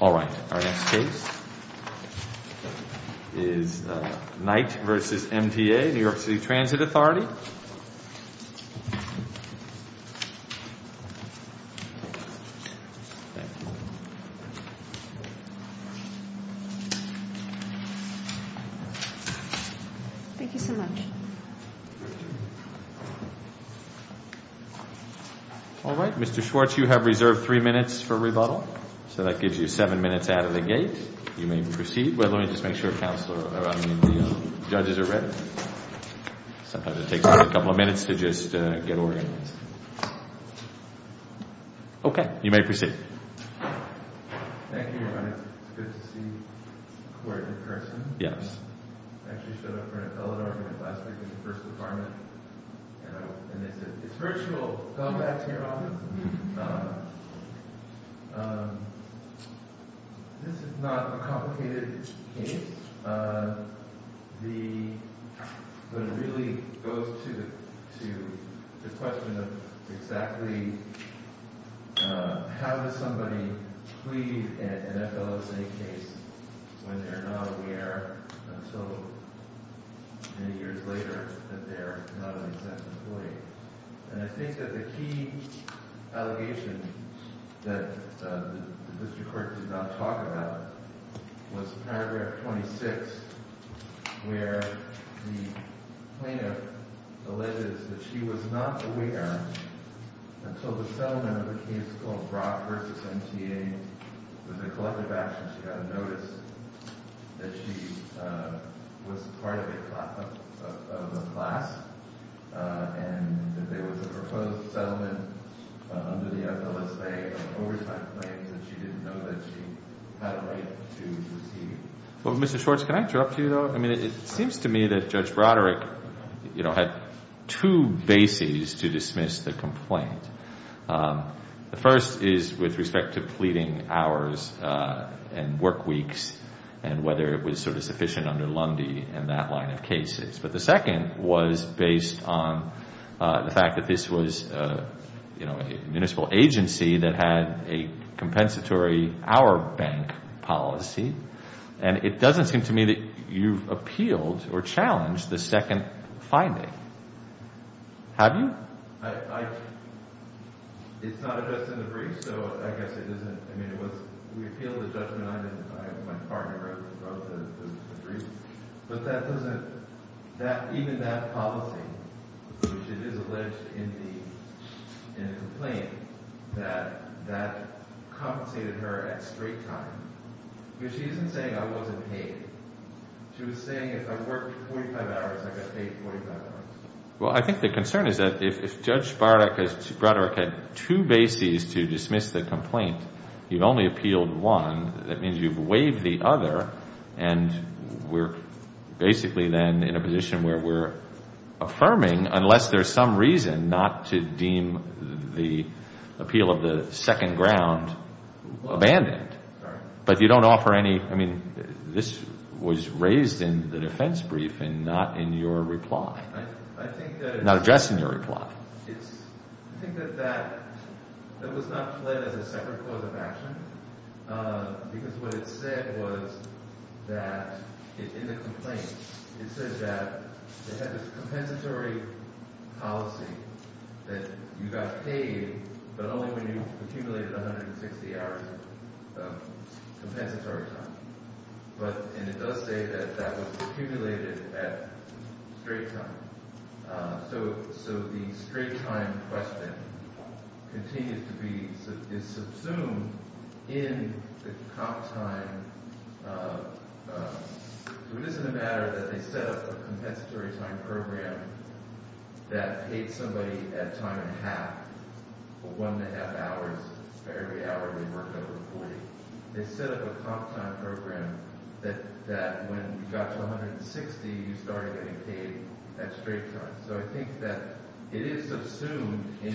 All right. Our next case is Knight v. MTA-New York City Transit Authority. Thank you so much. All right. Mr. Schwartz, you have reserved three minutes for rebuttal. So that gives you seven minutes out of the gate. You may proceed. Well, let me just make sure the judges are ready. Sometimes it takes a couple of minutes to just get organized. Okay. You may proceed. Thank you, Your Honor. It's good to see the court in person. Yes. I actually showed up for an appellate argument last week in the first department. And they said, it's virtual. Come back to your office. This is not a complicated case. But it really goes to the question of exactly how does somebody plead an FLSA case when they're not aware until many years later that they're not an exempt employee? And I think that the key allegation that the district court did not talk about was paragraph 26, where the plaintiff alleges that she was not aware until the settlement of a case called Brock v. MTA. I think it was a collective action. She got a notice that she was part of a class and that there was a proposed settlement under the FLSA of overtime claims that she didn't know that she had a right to receive. Well, Mr. Schwartz, can I interrupt you, though? I mean, it seems to me that Judge Broderick, you know, had two bases to dismiss the complaint. The first is with respect to pleading hours and work weeks and whether it was sort of sufficient under Lundy in that line of cases. But the second was based on the fact that this was, you know, a municipal agency that had a compensatory hour bank policy. And it doesn't seem to me that you've appealed or challenged the second finding. Have you? It's not addressed in the brief, so I guess it isn't – I mean, it was – we appealed the judgment on it. My partner wrote the brief. But that doesn't – even that policy, which it is alleged in the complaint, that that compensated her at straight time. Because she isn't saying I wasn't paid. She was saying if I worked 45 hours, I got paid 45 hours. Well, I think the concern is that if Judge Broderick had two bases to dismiss the complaint, you've only appealed one. That means you've waived the other. And we're basically then in a position where we're affirming unless there's some reason not to deem the appeal of the second ground abandoned. But you don't offer any – I mean, this was raised in the defense briefing, not in your reply. I think that it's – Not addressed in your reply. It's – I think that that – it was not fled as a separate cause of action because what it said was that in the complaint, it said that they had this compensatory policy that you got paid, but only when you accumulated 160 hours of compensatory time. But – and it does say that that was accumulated at straight time. So the straight time question continues to be – is subsumed in the comp time. So it isn't a matter that they set up a compensatory time program that paid somebody at time and a half, one and a half hours for every hour they worked over 40. They set up a comp time program that when you got to 160, you started getting paid at straight time. So I think that it is subsumed in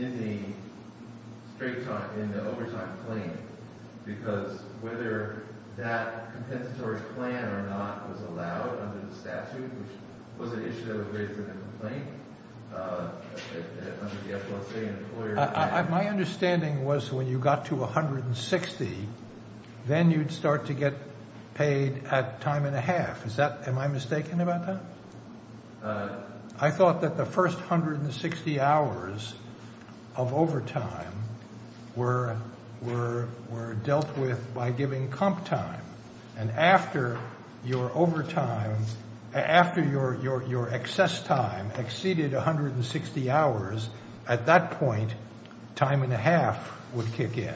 the straight time – in the overtime claim because whether that compensatory plan or not was allowed under the statute, which was an issue that was raised in the complaint, under the FSA, an employer – My understanding was when you got to 160, then you'd start to get paid at time and a half. Is that – am I mistaken about that? I thought that the first 160 hours of overtime were dealt with by giving comp time. And after your overtime – after your excess time exceeded 160 hours, at that point, time and a half would kick in.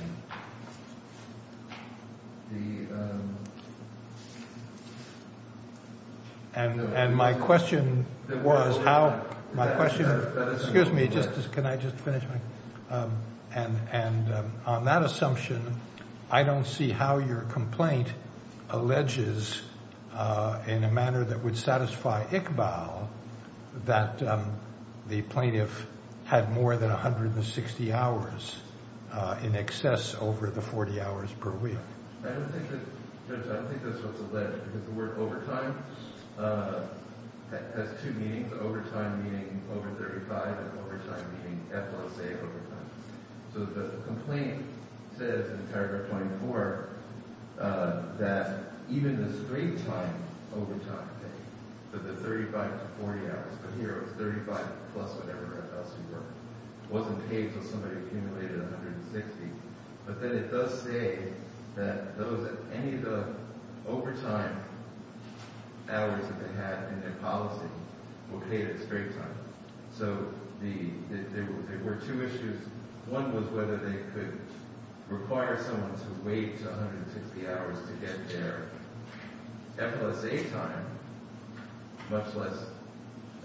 And my question was how – my question – excuse me, can I just finish my – and on that assumption, I don't see how your complaint alleges in a manner that would satisfy Iqbal that the plaintiff had more than 160 hours in excess over the 40 hours per week. I don't think that – Judge, I don't think that's what's alleged because the word overtime has two meanings. Overtime meaning over 35 and overtime meaning FSA overtime. So the complaint says in paragraph 24 that even the straight-time overtime pay for the 35 to 40 hours – but here it was 35 plus whatever else we were – wasn't paid until somebody accumulated 160. But then it does say that those – any of the overtime hours that they had in their policy were paid at straight time. So there were two issues. One was whether they could require someone to wait 160 hours to get their FLSA time, much less –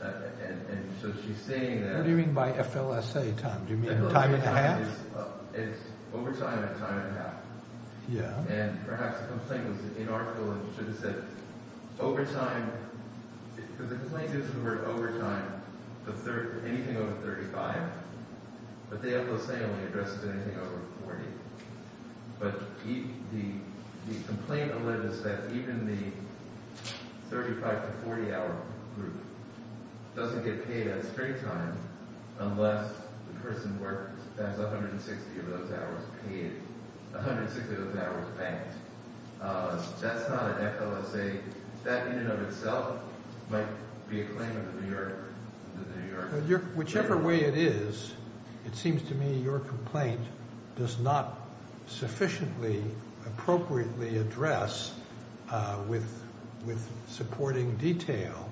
and so she's saying that – What do you mean by FLSA time? Do you mean time and a half? It's overtime and time and a half. Yeah. And perhaps the complaint was inarticulate and should have said overtime – because the complaint gives the word overtime for anything over 35, but the FLSA only addresses anything over 40. But the complaint alleges that even the 35 to 40 hour group doesn't get paid at straight time unless the person worked – has 160 of those hours paid – 160 of those hours banked. That's not an FLSA. That in and of itself might be a claim of the New Yorker. Whichever way it is, it seems to me your complaint does not sufficiently appropriately address with supporting detail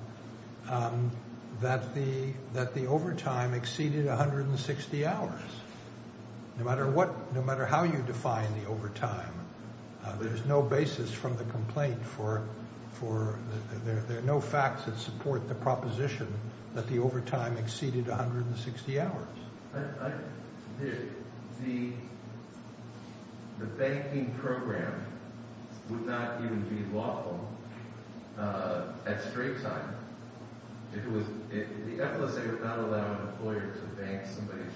that the overtime exceeded 160 hours. No matter what – no matter how you define the overtime, there's no basis from the complaint for – there are no facts that support the proposition that the overtime exceeded 160 hours. The banking program would not even be lawful at straight time. If it was – if the FLSA would not allow an employer to bank somebody's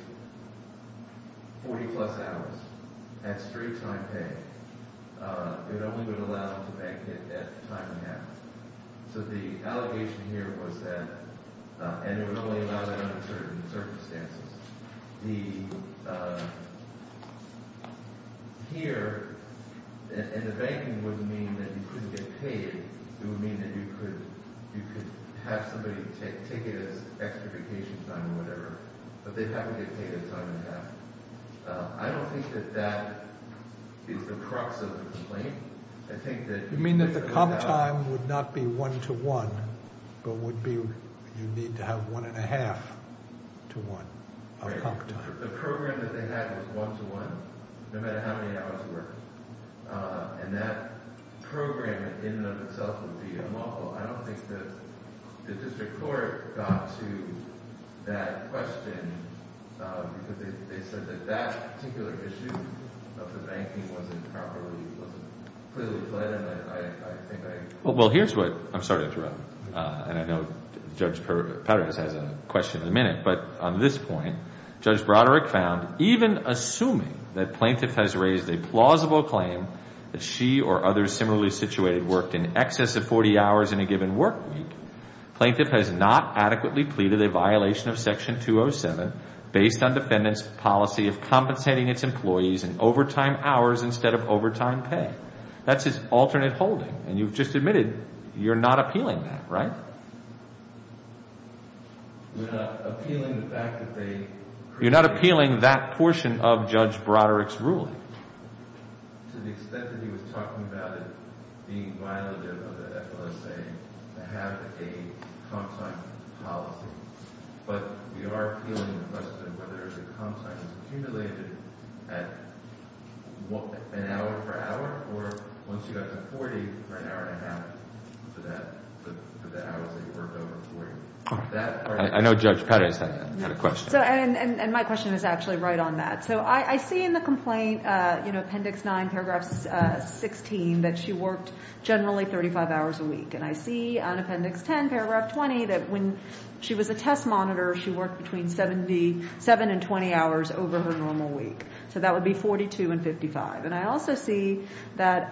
40-plus hours at straight time pay, it only would allow them to bank it at time and a half. So the allegation here was that – and it would only allow that under certain circumstances. The – here – and the banking wouldn't mean that you couldn't get paid. It would mean that you could have somebody take it as extra vacation time or whatever, but they'd have to get paid at time and a half. I don't think that that is the crux of the complaint. You mean that the comp time would not be one-to-one, but would be you need to have one-and-a-half to one of comp time. The program that they had was one-to-one, no matter how many hours worked. And that program in and of itself would be unlawful. I don't think that the district court got to that question because they said that that particular issue of the banking wasn't properly – wasn't clearly fled. And I think I – Well, here's what – I'm sorry to interrupt. And I know Judge Perez has a question in a minute. But on this point, Judge Broderick found, even assuming that plaintiff has raised a plausible claim that she or others similarly situated worked in excess of 40 hours in a given work week, plaintiff has not adequately pleaded a violation of Section 207 based on defendant's policy of compensating its employees in overtime hours instead of overtime pay. That's his alternate holding. And you've just admitted you're not appealing that, right? We're not appealing the fact that they – You're not appealing that portion of Judge Broderick's ruling. To the extent that he was talking about it being violative of the FLSA to have a comp time policy. But we are appealing the question whether the comp time is accumulated at an hour per hour or once you got to 40 for an hour and a half for the hours that you worked over 40. I know Judge Perez had a question. And my question is actually right on that. So I see in the complaint, you know, Appendix 9, Paragraph 16, that she worked generally 35 hours a week. And I see on Appendix 10, Paragraph 20, that when she was a test monitor, she worked between 7 and 20 hours over her normal week. So that would be 42 and 55. And I also see that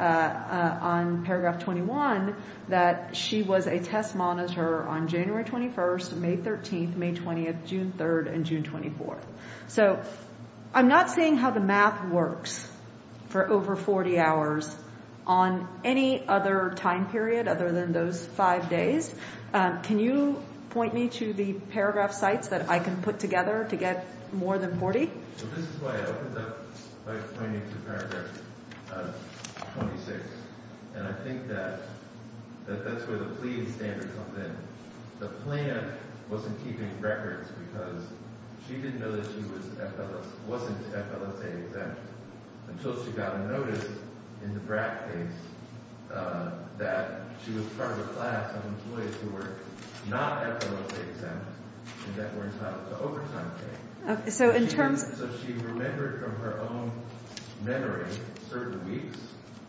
on Paragraph 21 that she was a test monitor on January 21st, May 13th, May 20th, June 3rd, and June 24th. So I'm not seeing how the math works for over 40 hours on any other time period other than those five days. Can you point me to the paragraph sites that I can put together to get more than 40? This is why I opened up by pointing to Paragraph 26. And I think that that's where the plea standards come in. The plaintiff wasn't keeping records because she didn't know that she wasn't FLSA exempt until she got a notice in the BRAC case that she was part of a class of employees who were not FLSA exempt and that were entitled to overtime pay. So she remembered from her own memory certain weeks,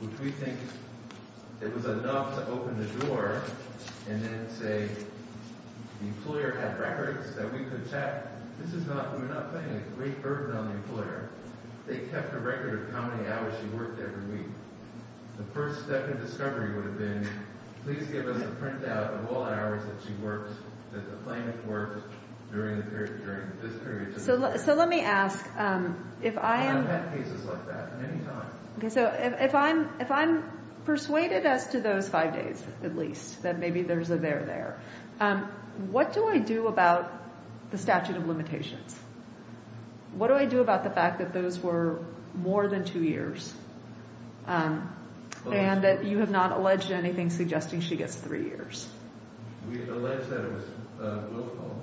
which we think it was enough to open the door and then say, the employer had records that we could check. This is not – we're not putting a great burden on the employer. They kept a record of how many hours she worked every week. The first step in discovery would have been, please give us a printout of all the hours that she worked, that the plaintiff worked during this period. So let me ask, if I am – And I've had cases like that many times. So if I'm persuaded as to those five days, at least, that maybe there's a there there, what do I do about the statute of limitations? What do I do about the fact that those were more than two years and that you have not alleged anything suggesting she gets three years? We've alleged that it was local,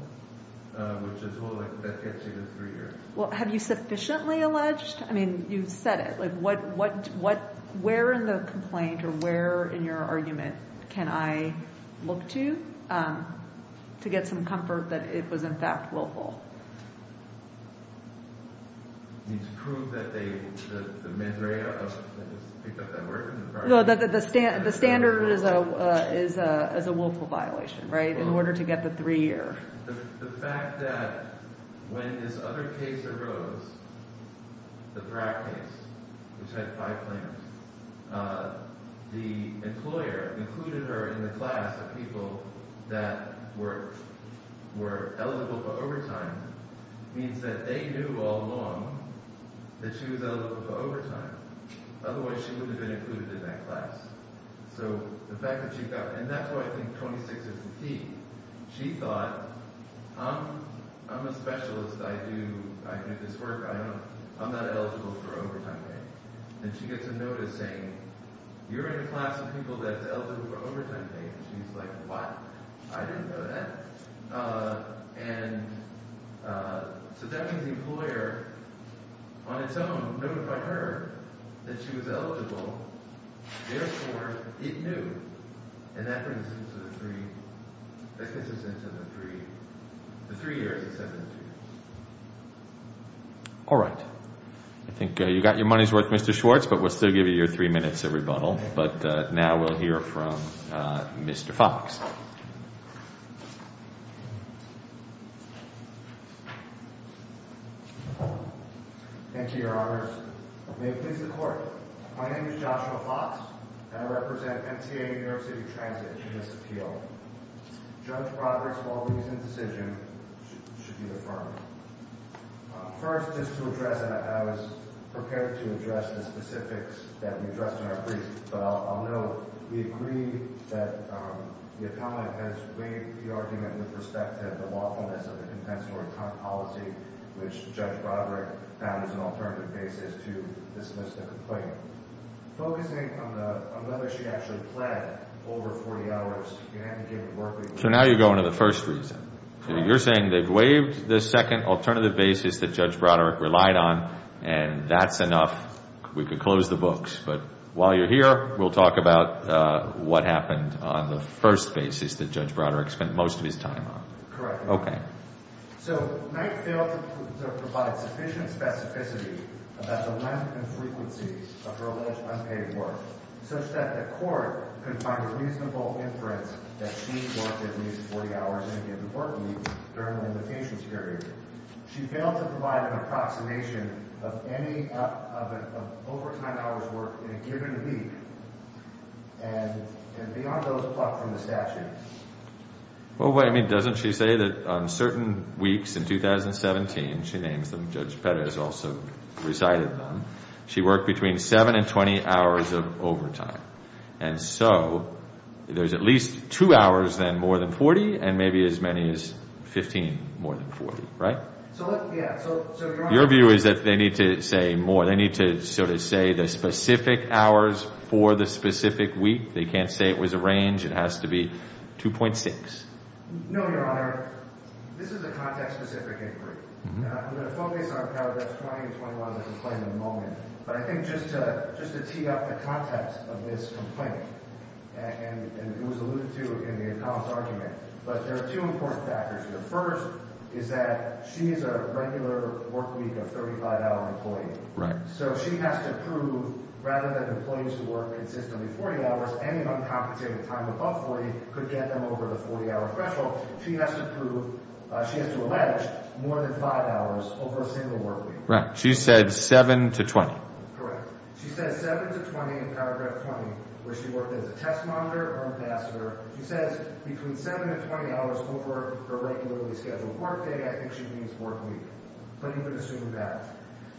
which is only that she gets three years. Well, have you sufficiently alleged? I mean, you've said it. Like, where in the complaint or where in your argument can I look to to get some comfort that it was, in fact, willful? You mean to prove that they – the men picked up that word? No, the standard is a willful violation, right, in order to get the three-year. The fact that when this other case arose, the Bragg case, which had five plaintiffs, the employer included her in the class of people that were eligible for overtime means that they knew all along that she was eligible for overtime. Otherwise, she wouldn't have been included in that class. So the fact that she got – and that's why I think 26 is the key. She thought, I'm a specialist. I do this work. I'm not eligible for overtime pay. And she gets a notice saying, you're in a class of people that's eligible for overtime pay. And she's like, what? I didn't know that. And so that means the employer, on its own, notified her that she was eligible. Therefore, it knew. And that brings us into the three years. All right. I think you got your money's worth, Mr. Schwartz, but we'll still give you your three minutes of rebuttal. But now we'll hear from Mr. Fox. Thank you, Your Honors. May it please the Court, my name is Joshua Fox, and I represent MTA New York City Transit in this appeal. Judge Broderick's lawful reasoned decision should be affirmed. First, just to address that, I was prepared to address the specifics that we addressed in our brief, but I'll note we agree that the appellant has weighed the argument with respect to the lawfulness of the compensatory policy, which Judge Broderick found as an alternative basis to dismiss the complaint. Focusing on whether she actually pled over 40 hours, you haven't given work reasons. So now you're going to the first reason. You're saying they've waived the second alternative basis that Judge Broderick relied on, and that's enough, we can close the books. But while you're here, we'll talk about what happened on the first basis that Judge Broderick spent most of his time on. Correct. Okay. So Knight failed to provide sufficient specificity about the length and frequency of her alleged unpaid work such that the court could find a reasonable inference that she worked at least 40 hours in a given work week during the limitations period. She failed to provide an approximation of overtime hours worked in a given week, and beyond those plucked from the statute. Well, wait a minute. Doesn't she say that on certain weeks in 2017, she names them, Judge Perez also recited them, she worked between 7 and 20 hours of overtime. And so there's at least two hours then more than 40 and maybe as many as 15 more than 40, right? So, yeah. Your view is that they need to say more. They need to sort of say the specific hours for the specific week. They can't say it was a range. It has to be 2.6. No, Your Honor. This is a context-specific inquiry. I'm going to focus on paragraphs 20 and 21 of the complaint at the moment. But I think just to tee up the context of this complaint, and it was alluded to in the accounts argument, but there are two important factors here. The first is that she is a regular work week of 35-hour employee. Right. So she has to prove, rather than employees who work consistently 40 hours, any uncompensated time above 40 could get them over the 40-hour threshold, she has to prove, she has to allege, more than 5 hours over a single work week. Right. She said 7 to 20. Correct. She said 7 to 20 in paragraph 20, where she worked as a test monitor or an ambassador. She says between 7 and 20 hours over her regularly scheduled work day, I think she means work week. But you could assume that.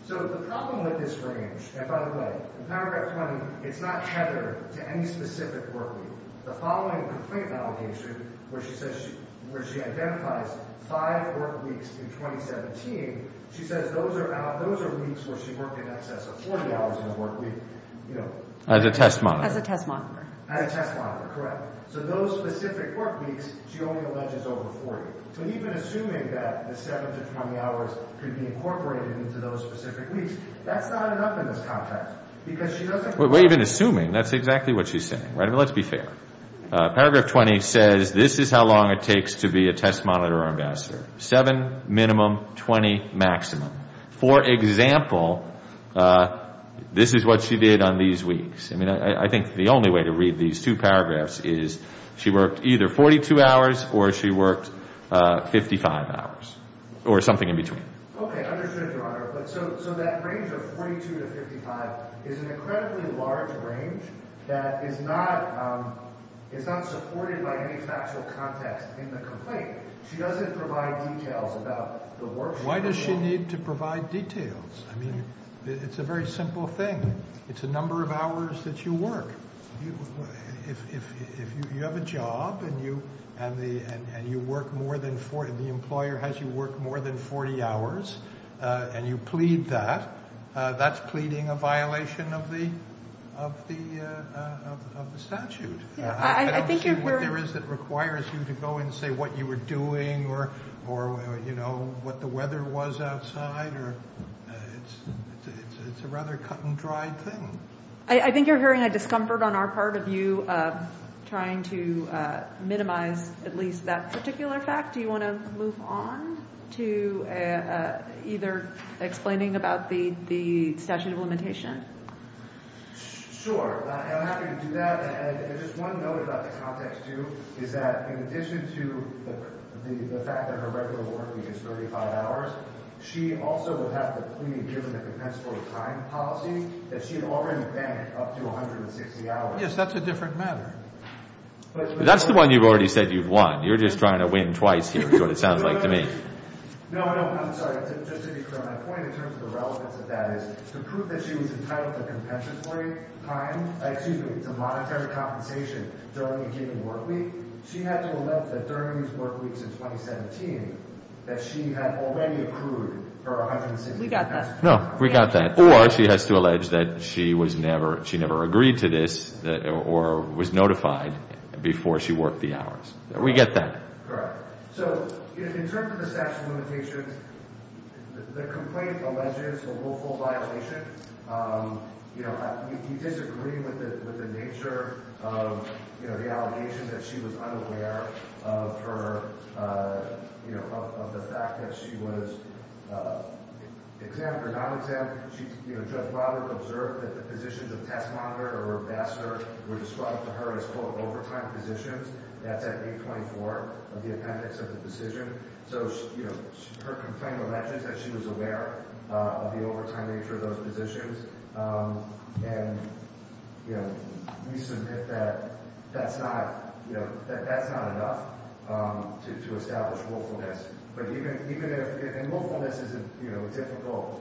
So the problem with this range, and by the way, in paragraph 20, it's not tethered to any specific work week. The following complaint allegation, where she identifies 5 work weeks in 2017, she says those are weeks where she worked in excess of 40 hours in a work week. As a test monitor. As a test monitor. As a test monitor, correct. So those specific work weeks, she only alleges over 40. So even assuming that the 7 to 20 hours could be incorporated into those specific weeks, that's not enough in this context, because she doesn't Well, even assuming, that's exactly what she's saying. Let's be fair. Paragraph 20 says this is how long it takes to be a test monitor or ambassador. 7 minimum, 20 maximum. For example, this is what she did on these weeks. I think the only way to read these two paragraphs is she worked either 42 hours or she worked 55 hours. Or something in between. Okay. Understood, Your Honor. So that range of 42 to 55 is an incredibly large range that is not supported by any factual context in the complaint. She doesn't provide details about the work she did. Why does she need to provide details? I mean, it's a very simple thing. It's the number of hours that you work. If you have a job and you work more than 40, the employer has you work more than 40 hours, and you plead that, that's pleading a violation of the statute. I don't see what there is that requires you to go and say what you were doing or, you know, what the weather was outside. It's a rather cut and dry thing. I think you're hearing a discomfort on our part of you trying to minimize at least that particular fact. Do you want to move on to either explaining about the statute of limitation? Sure. I'm happy to do that. Just one note about the context, too, is that in addition to the fact that her regular working is 35 hours, she also would have to plead given the compensatory time policy that she had already banked up to 160 hours. Yes, that's a different matter. That's the one you've already said you've won. You're just trying to win twice here is what it sounds like to me. No, I'm sorry. My point in terms of the relevance of that is to prove that she was entitled to compensatory time, excuse me, to monetary compensation during a given work week, she had to allege that during these work weeks in 2017 that she had already accrued her 160 hours. No, we got that. Or she has to allege that she never agreed to this or was notified before she worked the hours. We get that. Correct. So in terms of the statute of limitations, the complaint alleges a willful violation. You disagree with the nature of the allegation that she was unaware of the fact that she was exempt or non-exempt. Judge Robert observed that the positions of test monitor or ambassador were described to her as, quote, that's at page 24 of the appendix of the decision. So her complaint alleges that she was aware of the overtime nature of those positions. And we submit that that's not enough to establish willfulness. But even if willfulness is a difficult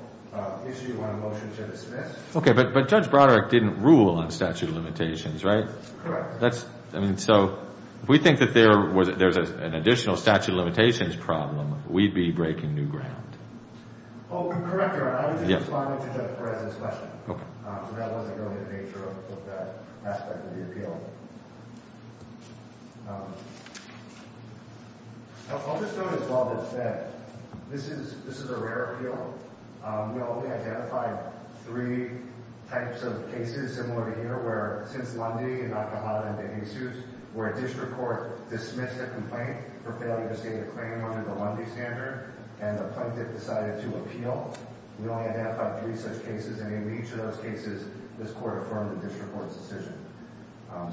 issue on a motion to dismiss. Okay, but Judge Broderick didn't rule on statute of limitations, right? Correct. That's, I mean, so if we think that there's an additional statute of limitations problem, we'd be breaking new ground. Oh, correct, Your Honor. I was just responding to the President's question. Okay. So that wasn't really the nature of that aspect of the appeal. I'll just note as well that this is a rare appeal. We only identified three types of cases similar to here where since Lundy and Al-Qahada and DeJesus, where a district court dismissed a complaint for failure to state a claim under the Lundy standard, and the plaintiff decided to appeal, we only identified three such cases. And in each of those cases, this court affirmed the district court's decision.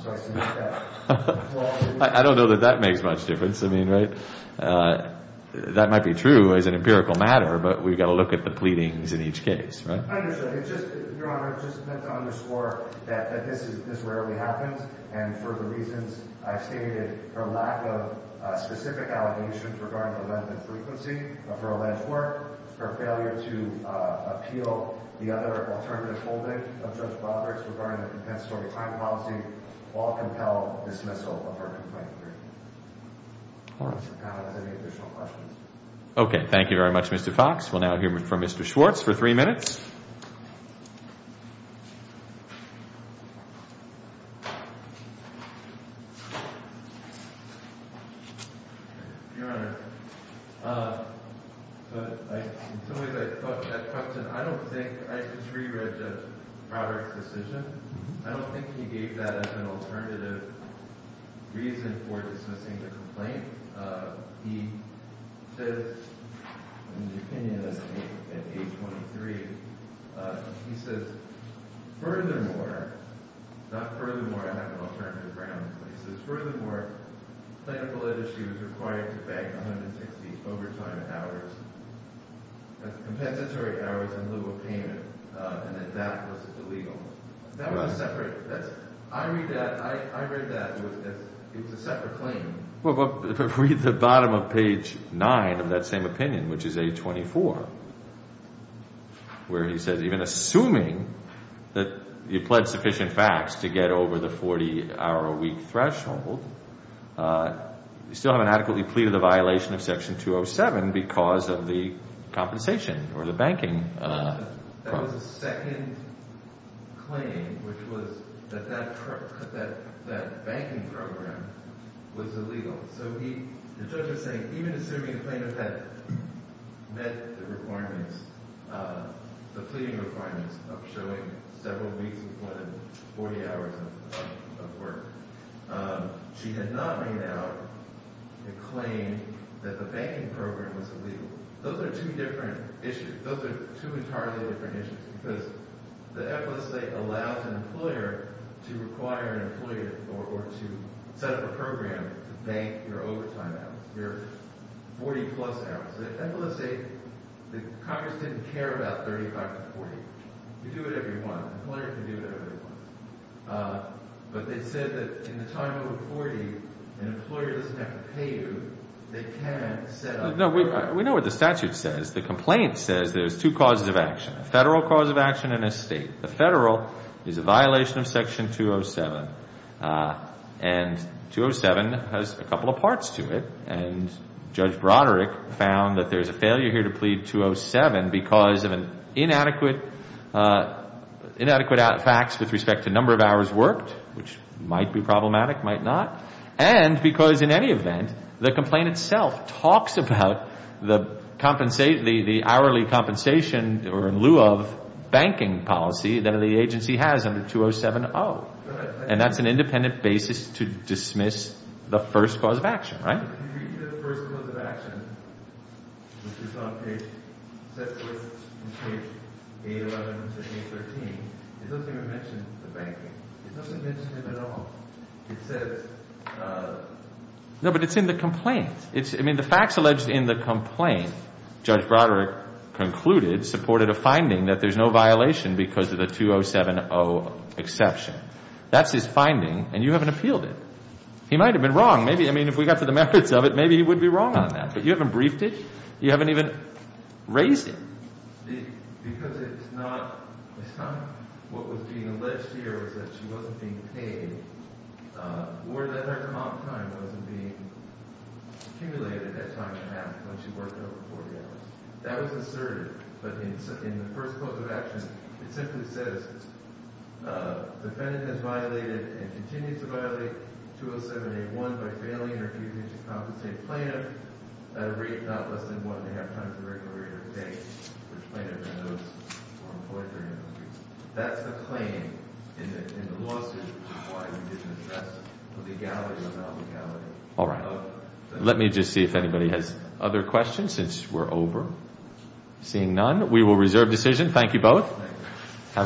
So I submit that. I don't know that that makes much difference. I mean, right? That might be true as an empirical matter, but we've got to look at the pleadings in each case, right? I understand. Your Honor, I just meant to underscore that this rarely happens, and for the reasons I've stated, her lack of specific allegations regarding the length and frequency of her alleged work, her failure to appeal the other alternative holding of Judge Broderick's regarding the compensatory time policy all compel dismissal of her complaint. Of course. Any additional questions? Okay, thank you very much, Mr. Fox. We'll now hear from Mr. Schwartz for three minutes. Your Honor, in some ways I thought that question, I don't think, I just reread Judge Broderick's decision. I don't think he gave that as an alternative reason for dismissing the complaint. He says, in his opinion at age 23, he says, furthermore, not furthermore, I have an alternative ground. He says, furthermore, plaintiff alleged she was required to bank 160 overtime hours, that's compensatory hours in lieu of payment, and that that was illegal. That was a separate, that's, I read that, I read that as it was a separate claim. Read the bottom of page 9 of that same opinion, which is age 24, where he says, even assuming that you pled sufficient facts to get over the 40-hour-a-week threshold, you still haven't adequately pleaded the violation of Section 207 because of the compensation or the banking. That was a second claim, which was that that banking program was illegal. So he, the judge is saying, even assuming the plaintiff had met the requirements, the pleading requirements of showing several weeks, more than 40 hours of work, she had not made out a claim that the banking program was illegal. Those are two different issues. Those are two entirely different issues. Because the FLSA allows an employer to require an employer or to set up a program to bank your overtime hours, your 40-plus hours. The FLSA, the Congress didn't care about 35 to 40. You do it every month. An employer can do it every month. But they said that in the time of a 40, an employer doesn't have to pay you. They can set up a program. No, we know what the statute says. The complaint says there's two causes of action, a federal cause of action and a state. The federal is a violation of Section 207. And 207 has a couple of parts to it. And Judge Broderick found that there's a failure here to plead 207 because of inadequate facts with respect to number of hours worked, which might be problematic, might not. And because in any event, the complaint itself talks about the hourly compensation or in lieu of banking policy that the agency has under 207-0. And that's an independent basis to dismiss the first cause of action, right? No, but it's in the complaint. I mean, the facts alleged in the complaint, Judge Broderick concluded, supported a finding that there's no violation because of the 207-0 exception. That's his finding. And you haven't appealed it. He might have been wrong. Maybe, I mean, if we got to the merits of it, maybe he would be wrong on that. But you haven't briefed it. You haven't even raised it. In the first cause of action, it simply says defendant has violated and continues to violate 207-A1 by failing or refusing to compensate plaintiff at a rate not less than one-and-a-half times the regular rate of pay for plaintiff and those who are employed therein. That's the claim in the lawsuit, which is why we didn't address the legality or non-legality. All right. Let me just see if anybody has other questions since we're over. Seeing none, we will reserve decision. Thank you both.